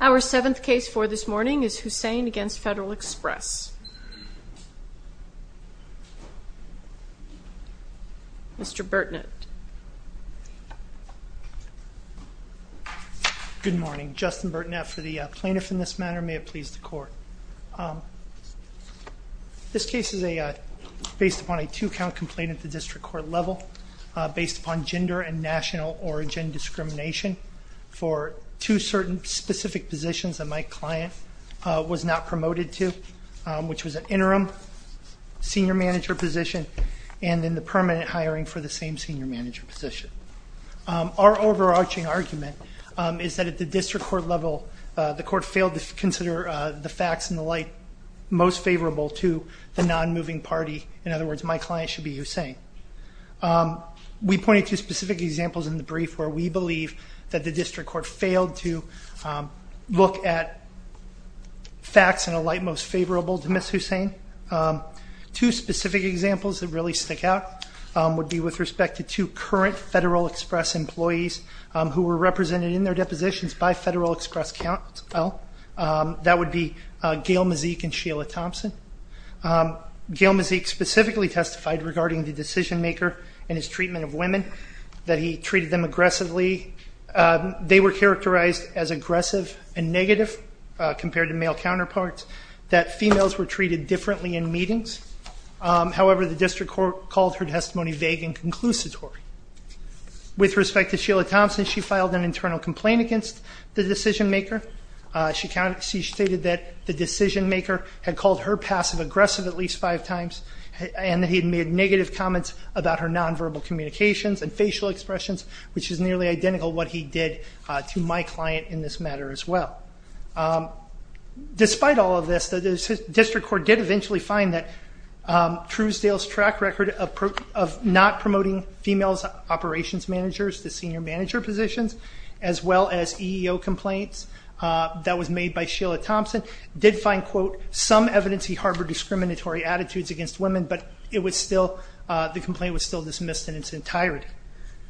Our seventh case for this morning is Hussain v. Federal Express. Mr. Burtnett. Good morning. Justin Burtnett for the plaintiff in this matter. May it please the court. This case is based upon a two-count complaint at the district court level based upon gender and for two certain specific positions that my client was not promoted to, which was an interim senior manager position and then the permanent hiring for the same senior manager position. Our overarching argument is that at the district court level the court failed to consider the facts and the light most favorable to the non-moving party. In other words, my client should be Hussain. We pointed to specific examples in the brief where we believe that the district court failed to look at facts and the light most favorable to Ms. Hussain. Two specific examples that really stick out would be with respect to two current Federal Express employees who were represented in their depositions by Federal Express Countell. That would be Gayle Mazik and Sheila Thompson. Gayle Mazik specifically testified regarding the decision maker and his treatment of women, that he treated them aggressively. They were characterized as aggressive and negative compared to male counterparts, that females were treated differently in meetings. However, the district court called her testimony vague and conclusive. With respect to Sheila Thompson, she filed an internal complaint against the decision maker. She stated that the decision maker had called her passive aggressive at least five times and that he had made negative comments about her non-verbal communications and facial expressions, which is nearly identical to what he did to my client in this matter as well. Despite all of this, the district court did eventually find that Truesdale's track record of not promoting females operations managers to senior manager positions, as well as EEO complaints that was made by Sheila Thompson, did find, quote, some evidence he harbored discriminatory attitudes against women, but it was still, the complaint was still dismissed in its entirety.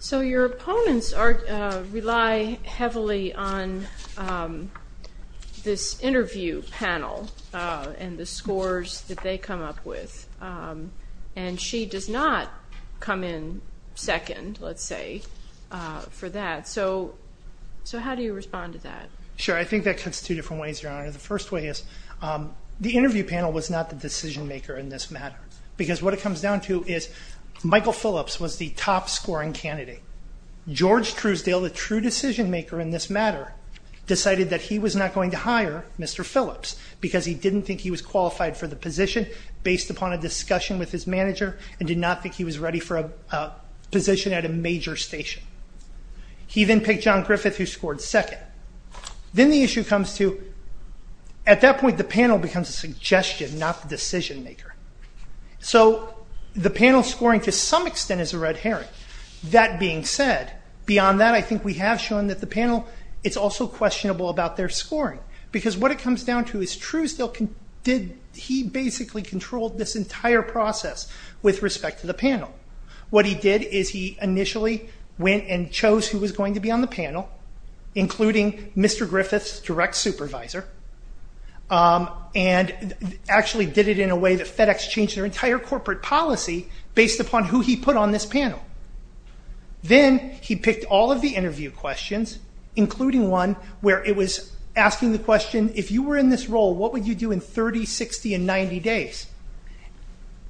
So your opponents rely heavily on this interview panel and the scores that they Sure, I think that cuts two different ways, Your Honor. The first way is the interview panel was not the decision maker in this matter, because what it comes down to is Michael Phillips was the top scoring candidate. George Truesdale, the true decision maker in this matter, decided that he was not going to hire Mr. Phillips because he didn't think he was qualified for the position based upon a discussion with his manager and did not think he was ready for a position at a major station. He then picked John Griffith, who scored second. Then the issue comes to, at that point, the panel becomes a suggestion, not the decision maker. So the panel scoring to some extent is a red herring. That being said, beyond that, I think we have shown that the panel, it's also questionable about their scoring, because what it comes down to is Truesdale, he basically controlled this entire process with respect to the panel. What he did is he initially went and chose who was going to be on the panel, including Mr. Griffith's direct supervisor, and actually did it in a way that FedEx changed their entire corporate policy based upon who he put on this panel. Then he picked all of the interview questions, including one where it was asking the question, if you were in this role, what would you do in 30, 60, and 90 days?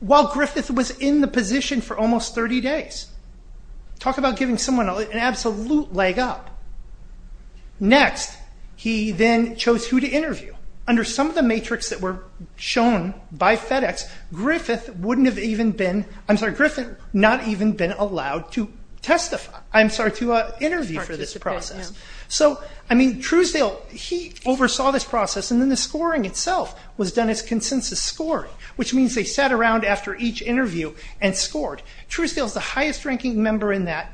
While Griffith was in the position for almost 30 days. Talk about giving someone an absolute leg up. Next, he then chose who to interview. Under some of the matrix that were shown by FedEx, Griffith wouldn't have even been, I'm sorry, Griffith not even been allowed to testify, I'm sorry, to interview for this process. Truesdale, he oversaw this process, and then the scoring itself was done as consensus scoring, which means they sat around after each interview and scored. Truesdale is the highest ranking member in that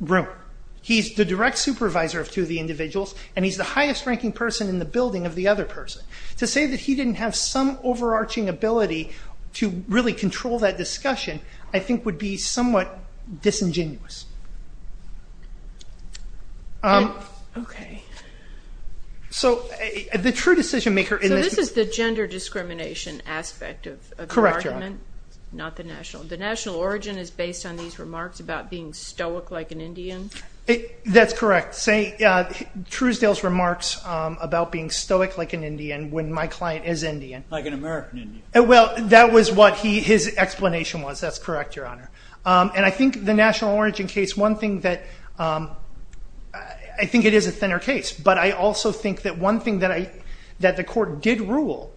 room. He's the direct supervisor of two of the individuals, and he's the highest ranking person in the building of the other person. To say that he didn't have some overarching ability to really control that discussion, I think would be somewhat disingenuous. Okay, so the true decision-maker in this- So this is the gender discrimination aspect of the argument, not the national. The national origin is based on these remarks about being stoic like an Indian? That's correct. Truesdale's remarks about being stoic like an Indian, when my client is Indian. Like an American Indian. Well, that was what his explanation was. That's correct, Your Honor. And I think the national origin case, one thing that- I think it is a thinner case, but I also think that one thing that the court did rule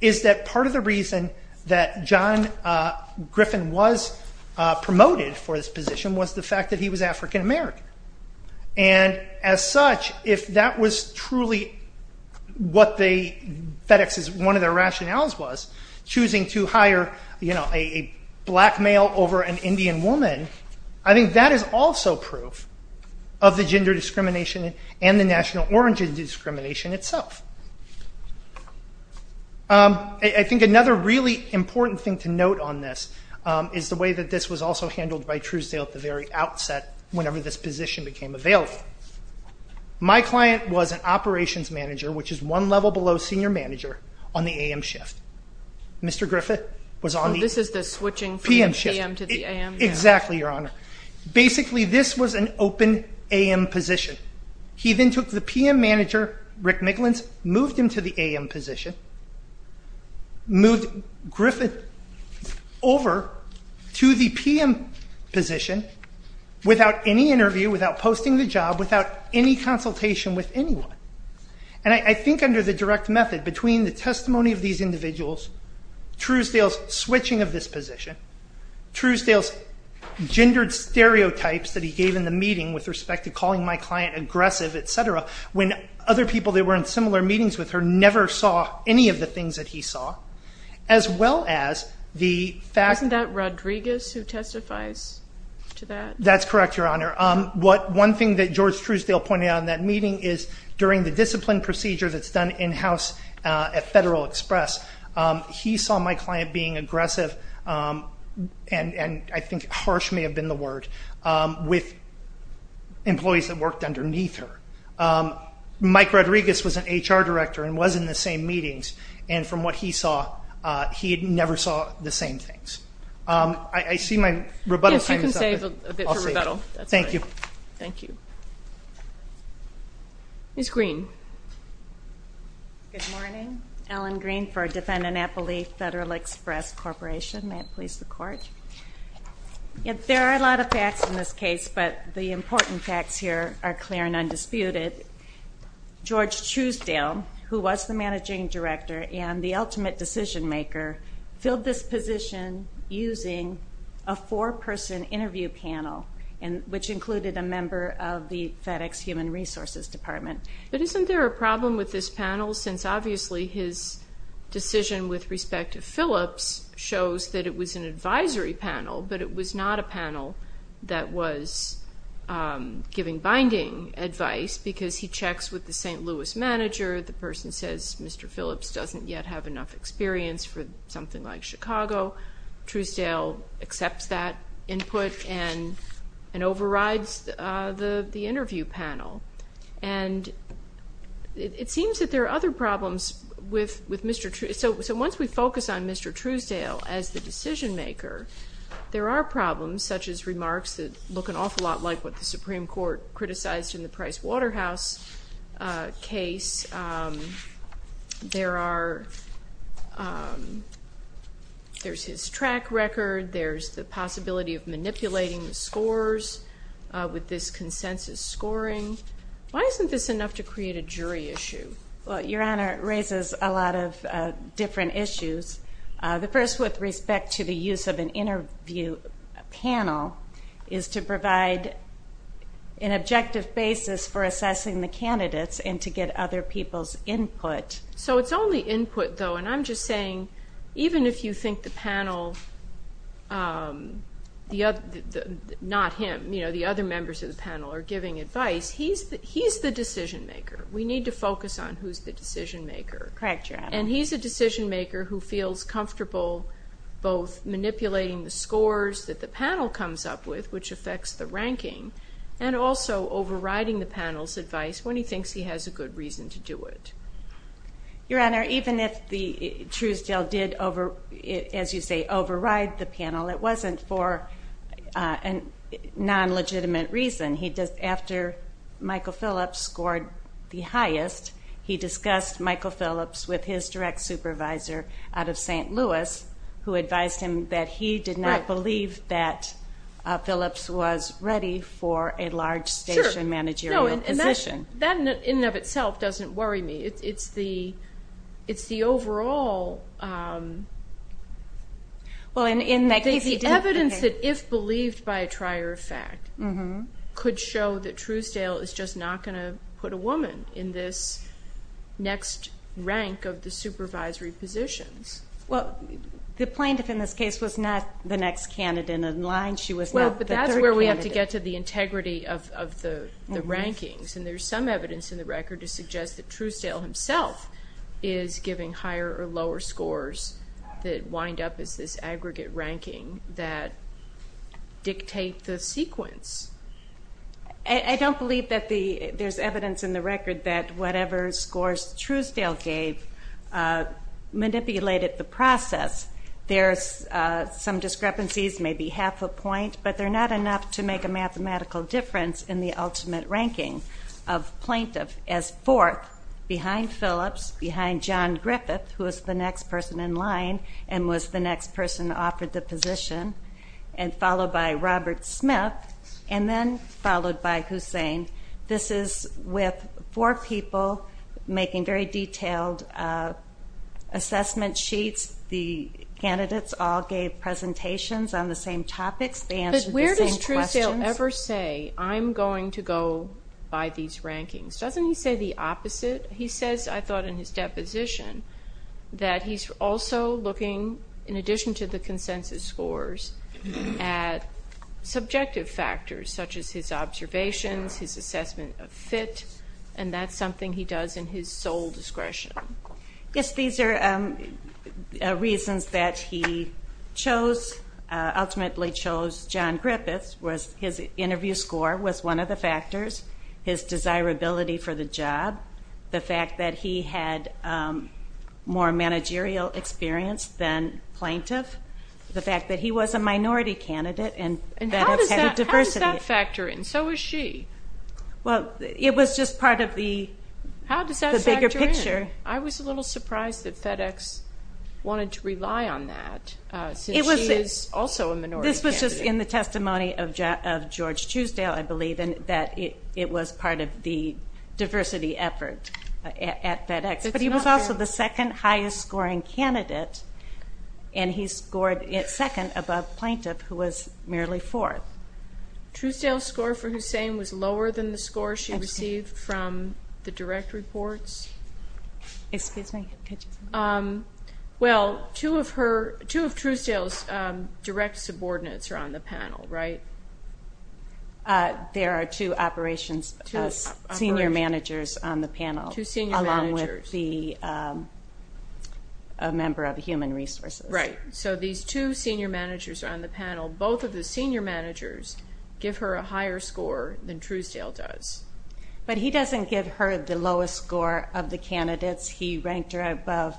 is that part of the reason that John Griffin was promoted for this position was the fact that he was African American. And as such, if that was truly what the FedEx's- one of their rationales was, choosing to hire a black male over an Indian woman, I think that is also proof of the gender discrimination and the national origin discrimination itself. I think another really important thing to note on this is the way that this was also handled by Truesdale at the very outset, whenever this position became available. My client was an operations manager, which is one level below senior manager on the AM shift. Mr. Griffith was on the- This is the switching from the AM to the AM shift. Exactly, Your Honor. Basically, this was an open AM position. He then took the PM manager, Rick Micklins, moved him to the AM position, moved Griffin over to the PM position without any interview, without posting the job, without any consultation with anyone. And I think under the direct method, between the testimony of these individuals, Truesdale's switching of this position, Truesdale's gendered stereotypes that he gave in the meeting with respect to calling my client aggressive, et cetera, when other people that were in similar meetings with her never saw any of the things that he saw, as well as the fact- Wasn't that Rodriguez who testifies to that? That's correct, Your Honor. One thing that George Truesdale pointed out in that meeting is during the discipline procedure that's done in-house at Federal Express, he saw my client being aggressive, and I think harsh may have been the word, with employees that worked underneath her. Mike Rodriguez was an HR director and was in the same meetings, and from what he saw, he had never saw the same things. I see my rebuttal time is up. Yes, you can save a bit for rebuttal. Thank you. Thank you. Ms. Green. Good morning. Ellen Green for Defendant Appley Federal Express Corporation. May it please the Court. There are a lot of facts in this case, but the important facts here are clear and undisputed. George Truesdale, who was the managing director and the ultimate decision maker, filled this position using a four-person interview panel, which included a member of the FedEx Human Resources Department. But isn't there a problem with this panel, since obviously his decision with respect to Phillips shows that it was an advisory panel, but it was not a panel that was giving binding advice, because he checks with the St. Louis manager. The person says Mr. Phillips doesn't yet have enough experience for something like Chicago. Truesdale accepts that input and overrides the interview panel. So once we focus on Mr. Truesdale as the decision maker, there are problems, such as remarks that the Supreme Court criticized in the Price Waterhouse case. There's his track record, there's the possibility of manipulating the scores with this consensus scoring. Why isn't this enough to create a jury issue? Well, Your Honor, it raises a lot of different issues. The first, with respect to the use of interview panel, is to provide an objective basis for assessing the candidates and to get other people's input. So it's only input, though, and I'm just saying, even if you think the panel, not him, the other members of the panel are giving advice, he's the decision maker. We need to focus on who's the decision maker. Correct, Your Honor. He's a decision maker who feels comfortable both manipulating the scores that the panel comes up with, which affects the ranking, and also overriding the panel's advice when he thinks he has a good reason to do it. Your Honor, even if Truesdale did, as you say, override the panel, it wasn't for a non-legitimate reason. After Michael Phillips scored the highest, he discussed Michael Phillips with his direct supervisor out of St. Louis, who advised him that he did not believe that Phillips was ready for a large station managerial position. That, in and of itself, doesn't worry me. It's the overall evidence that, if believed by a fact, could show that Truesdale is just not going to put a woman in this next rank of the supervisory positions. Well, the plaintiff in this case was not the next candidate in line. She was not the third candidate. Well, but that's where we have to get to the integrity of the rankings, and there's some evidence in the record to suggest that Truesdale himself is giving higher or lower scores that dictate the sequence. I don't believe that there's evidence in the record that whatever scores Truesdale gave manipulated the process. There's some discrepancies, maybe half a point, but they're not enough to make a mathematical difference in the ultimate ranking of plaintiff as fourth behind Phillips, behind John Griffith, who was the next person in line and was the next person offered the position, and followed by Robert Smith, and then followed by Hussein. This is with four people making very detailed assessment sheets. The candidates all gave presentations on the same topics. They answered the same questions. But where does Truesdale ever say, I'm going to go by these rankings? Doesn't he say the opposite? He says, I thought in his deposition, that he's also looking, in addition to the consensus scores, at subjective factors such as his observations, his assessment of fit, and that's something he does in his sole discretion. Yes, these are reasons that he ultimately chose John Griffith. His interview score was one of the factors, his desirability for the job, the fact that he had more managerial experience than plaintiff, the fact that he was a minority candidate, and FedEx had a diversity. How does that factor in? So is she. Well, it was just part of the bigger picture. I was a little surprised that FedEx wanted to rely on that, since she is also a minority candidate. This was just in the testimony of George Truesdale, I believe, and that it was part of the And he scored second above plaintiff, who was merely fourth. Truesdale's score for Hussein was lower than the score she received from the direct reports? Excuse me. Well, two of Truesdale's direct subordinates are on the panel, right? There are two operations, senior managers on the panel. Two senior managers. And a member of Human Resources. Right. So these two senior managers are on the panel. Both of the senior managers give her a higher score than Truesdale does. But he doesn't give her the lowest score of the candidates. He ranked her above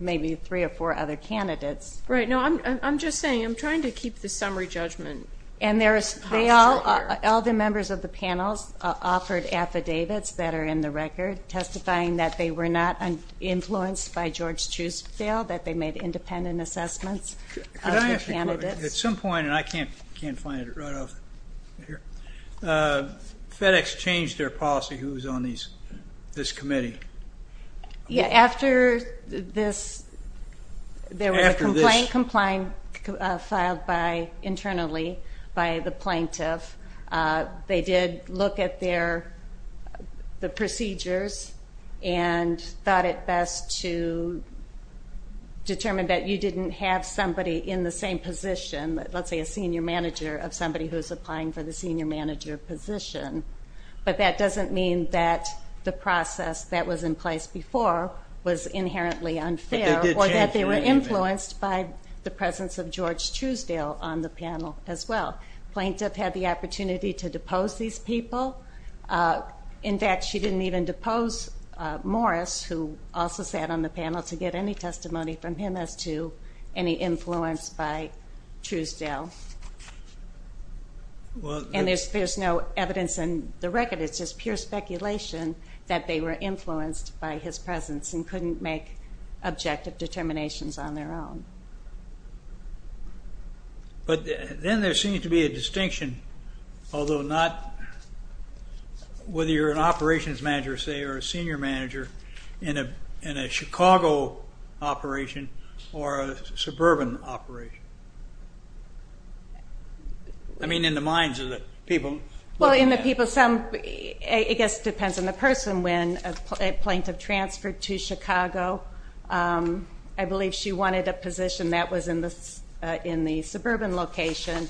maybe three or four other candidates. Right. No, I'm just saying, I'm trying to keep the summary judgment. And all the members of the panels offered affidavits that are in the record, testifying that they were not influenced by George Truesdale, that they made independent assessments of the candidates. At some point, and I can't find it right off here, FedEx changed their policy, who was on this committee? Yeah, after this, there was a complaint filed internally by the plaintiff. They did look at the procedures and thought it best to determine that you didn't have somebody in the same position, let's say a senior manager of somebody who's applying for the senior manager position. But that doesn't mean that the process that was in place before was inherently unfair or that they were influenced by the presence of George Truesdale on the panel as well. Plaintiff had the opportunity to depose these people. In fact, she didn't even depose Morris, who also sat on the panel, to get any testimony from him as to any influence by Truesdale. And there's no evidence in the record. It's just pure speculation that they were influenced by his presence and couldn't make objective determinations on their own. But then there seems to be a distinction, although not whether you're an operations manager, say, or a senior manager in a Chicago operation or a suburban operation. I mean, in the minds of the people? Well, in the people, it just depends on the person. When a plaintiff transferred to Chicago, I believe she wanted a position that was in the suburban location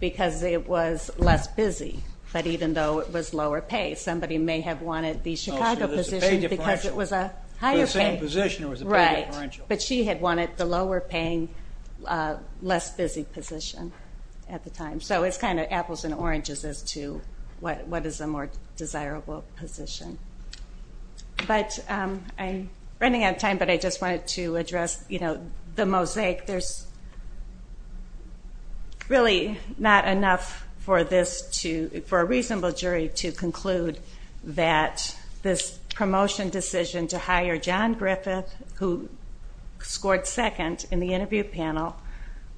because it was less busy, but even though it was lower pay. Somebody may have wanted the Chicago position because it was a higher pay. For the same position, it was a pay differential. But she had wanted the lower paying, less busy position. At the time. So it's kind of apples and oranges as to what is a more desirable position. But I'm running out of time, but I just wanted to address the mosaic. There's really not enough for a reasonable jury to conclude that this promotion decision to hire John Griffith, who scored second in the interview panel,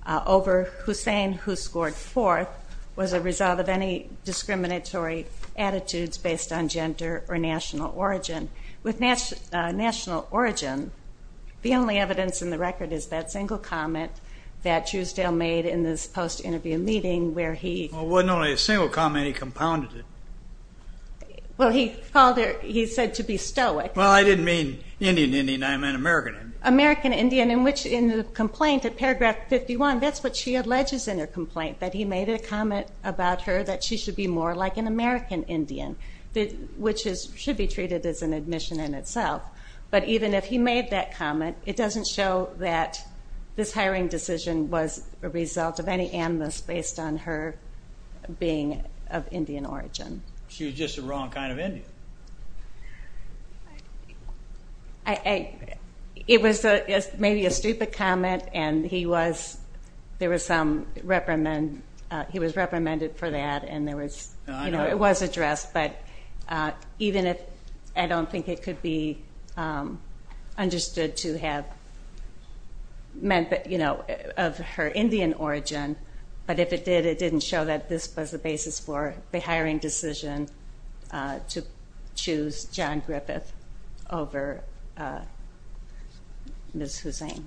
over Hussein, who scored fourth, was a result of any discriminatory attitudes based on gender or national origin. With national origin, the only evidence in the record is that single comment that Shusdale made in this post-interview meeting where he... Well, it wasn't only a single comment, he compounded it. Well, he called it, he said to be stoic. Well, I didn't mean Indian Indian, I meant American Indian. American Indian, in which in the complaint at paragraph 51, that's what she alleges in her complaint, that he made a comment about her that she should be more like an American Indian, which should be treated as an admission in itself. But even if he made that comment, it doesn't show that this hiring decision was a result of any animus based on her being of Indian origin. She was just the wrong kind of Indian. I... It was maybe a stupid comment, and he was... There was some reprimand. He was reprimanded for that, and there was... It was addressed, but even if... I don't think it could be understood to have meant that... Of her Indian origin, but if it did, it didn't show that this was the basis for the hiring decision to choose John Griffith. Over... Ms. Hussain.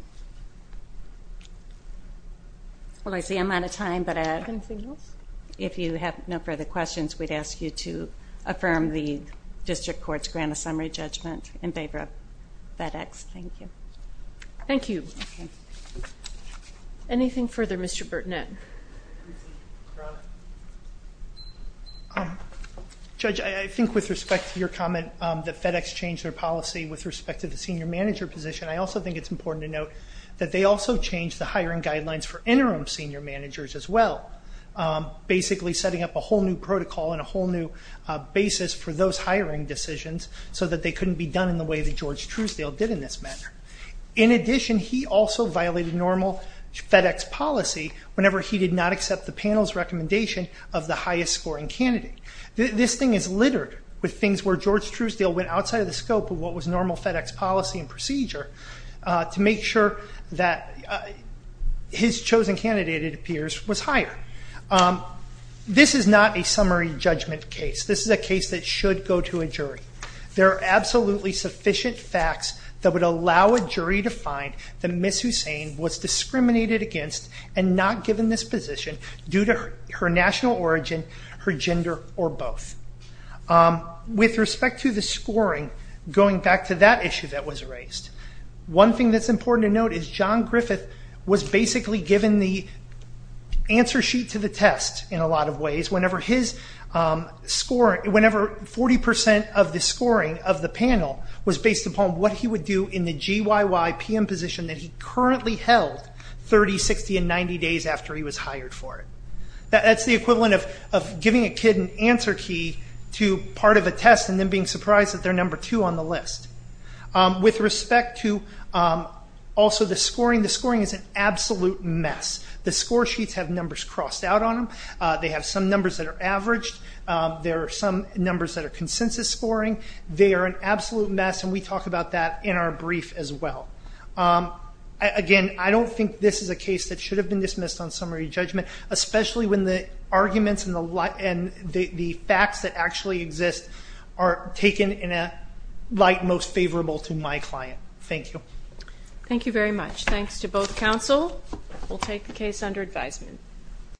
Well, I see I'm out of time, but I... Anything else? If you have no further questions, we'd ask you to affirm the district court's grant of summary judgment in favor of FedEx. Thank you. Thank you. Anything further, Mr. Bertinet? Judge, I think with respect to your comment, that FedEx changed their policy with respect to the senior manager position, I also think it's important to note that they also changed the hiring guidelines for interim senior managers as well, basically setting up a whole new protocol and a whole new basis for those hiring decisions so that they couldn't be done in the way that George Truesdale did in this matter. In addition, he also violated normal FedEx policy whenever he did not accept the panel's recommendation of the highest scoring candidate. This thing is littered with things where George Truesdale went outside of the scope of what was normal FedEx policy and procedure to make sure that his chosen candidate, it appears, was higher. This is not a summary judgment case. This is a case that should go to a jury. There are absolutely sufficient facts that would allow a jury to find that Ms. Hussain was discriminated against and not given this position due to her national origin, her gender, or both. With respect to the scoring, going back to that issue that was raised, one thing that's important to note is John Griffith was basically given the answer sheet to the test in a lot of ways whenever 40 percent of the scoring of the panel was based upon what he would do in the GYY PM position that he currently held 30, 60, and 90 days after he was hired for it. That's the equivalent of giving a kid an answer key to part of a test and then being surprised that they're number two on the list. With respect to also the scoring, the scoring is an absolute mess. The score sheets have numbers crossed out on them. They have some numbers that are averaged. There are some numbers that are consensus scoring. They are an absolute mess, and we talk about that in our brief as well. Again, I don't think this is a case that should have been dismissed on summary judgment, especially when the arguments and the facts that actually exist are taken in a light most favorable to my client. Thank you. Thank you very much. Thanks to both counsel. We'll take the case under advisement.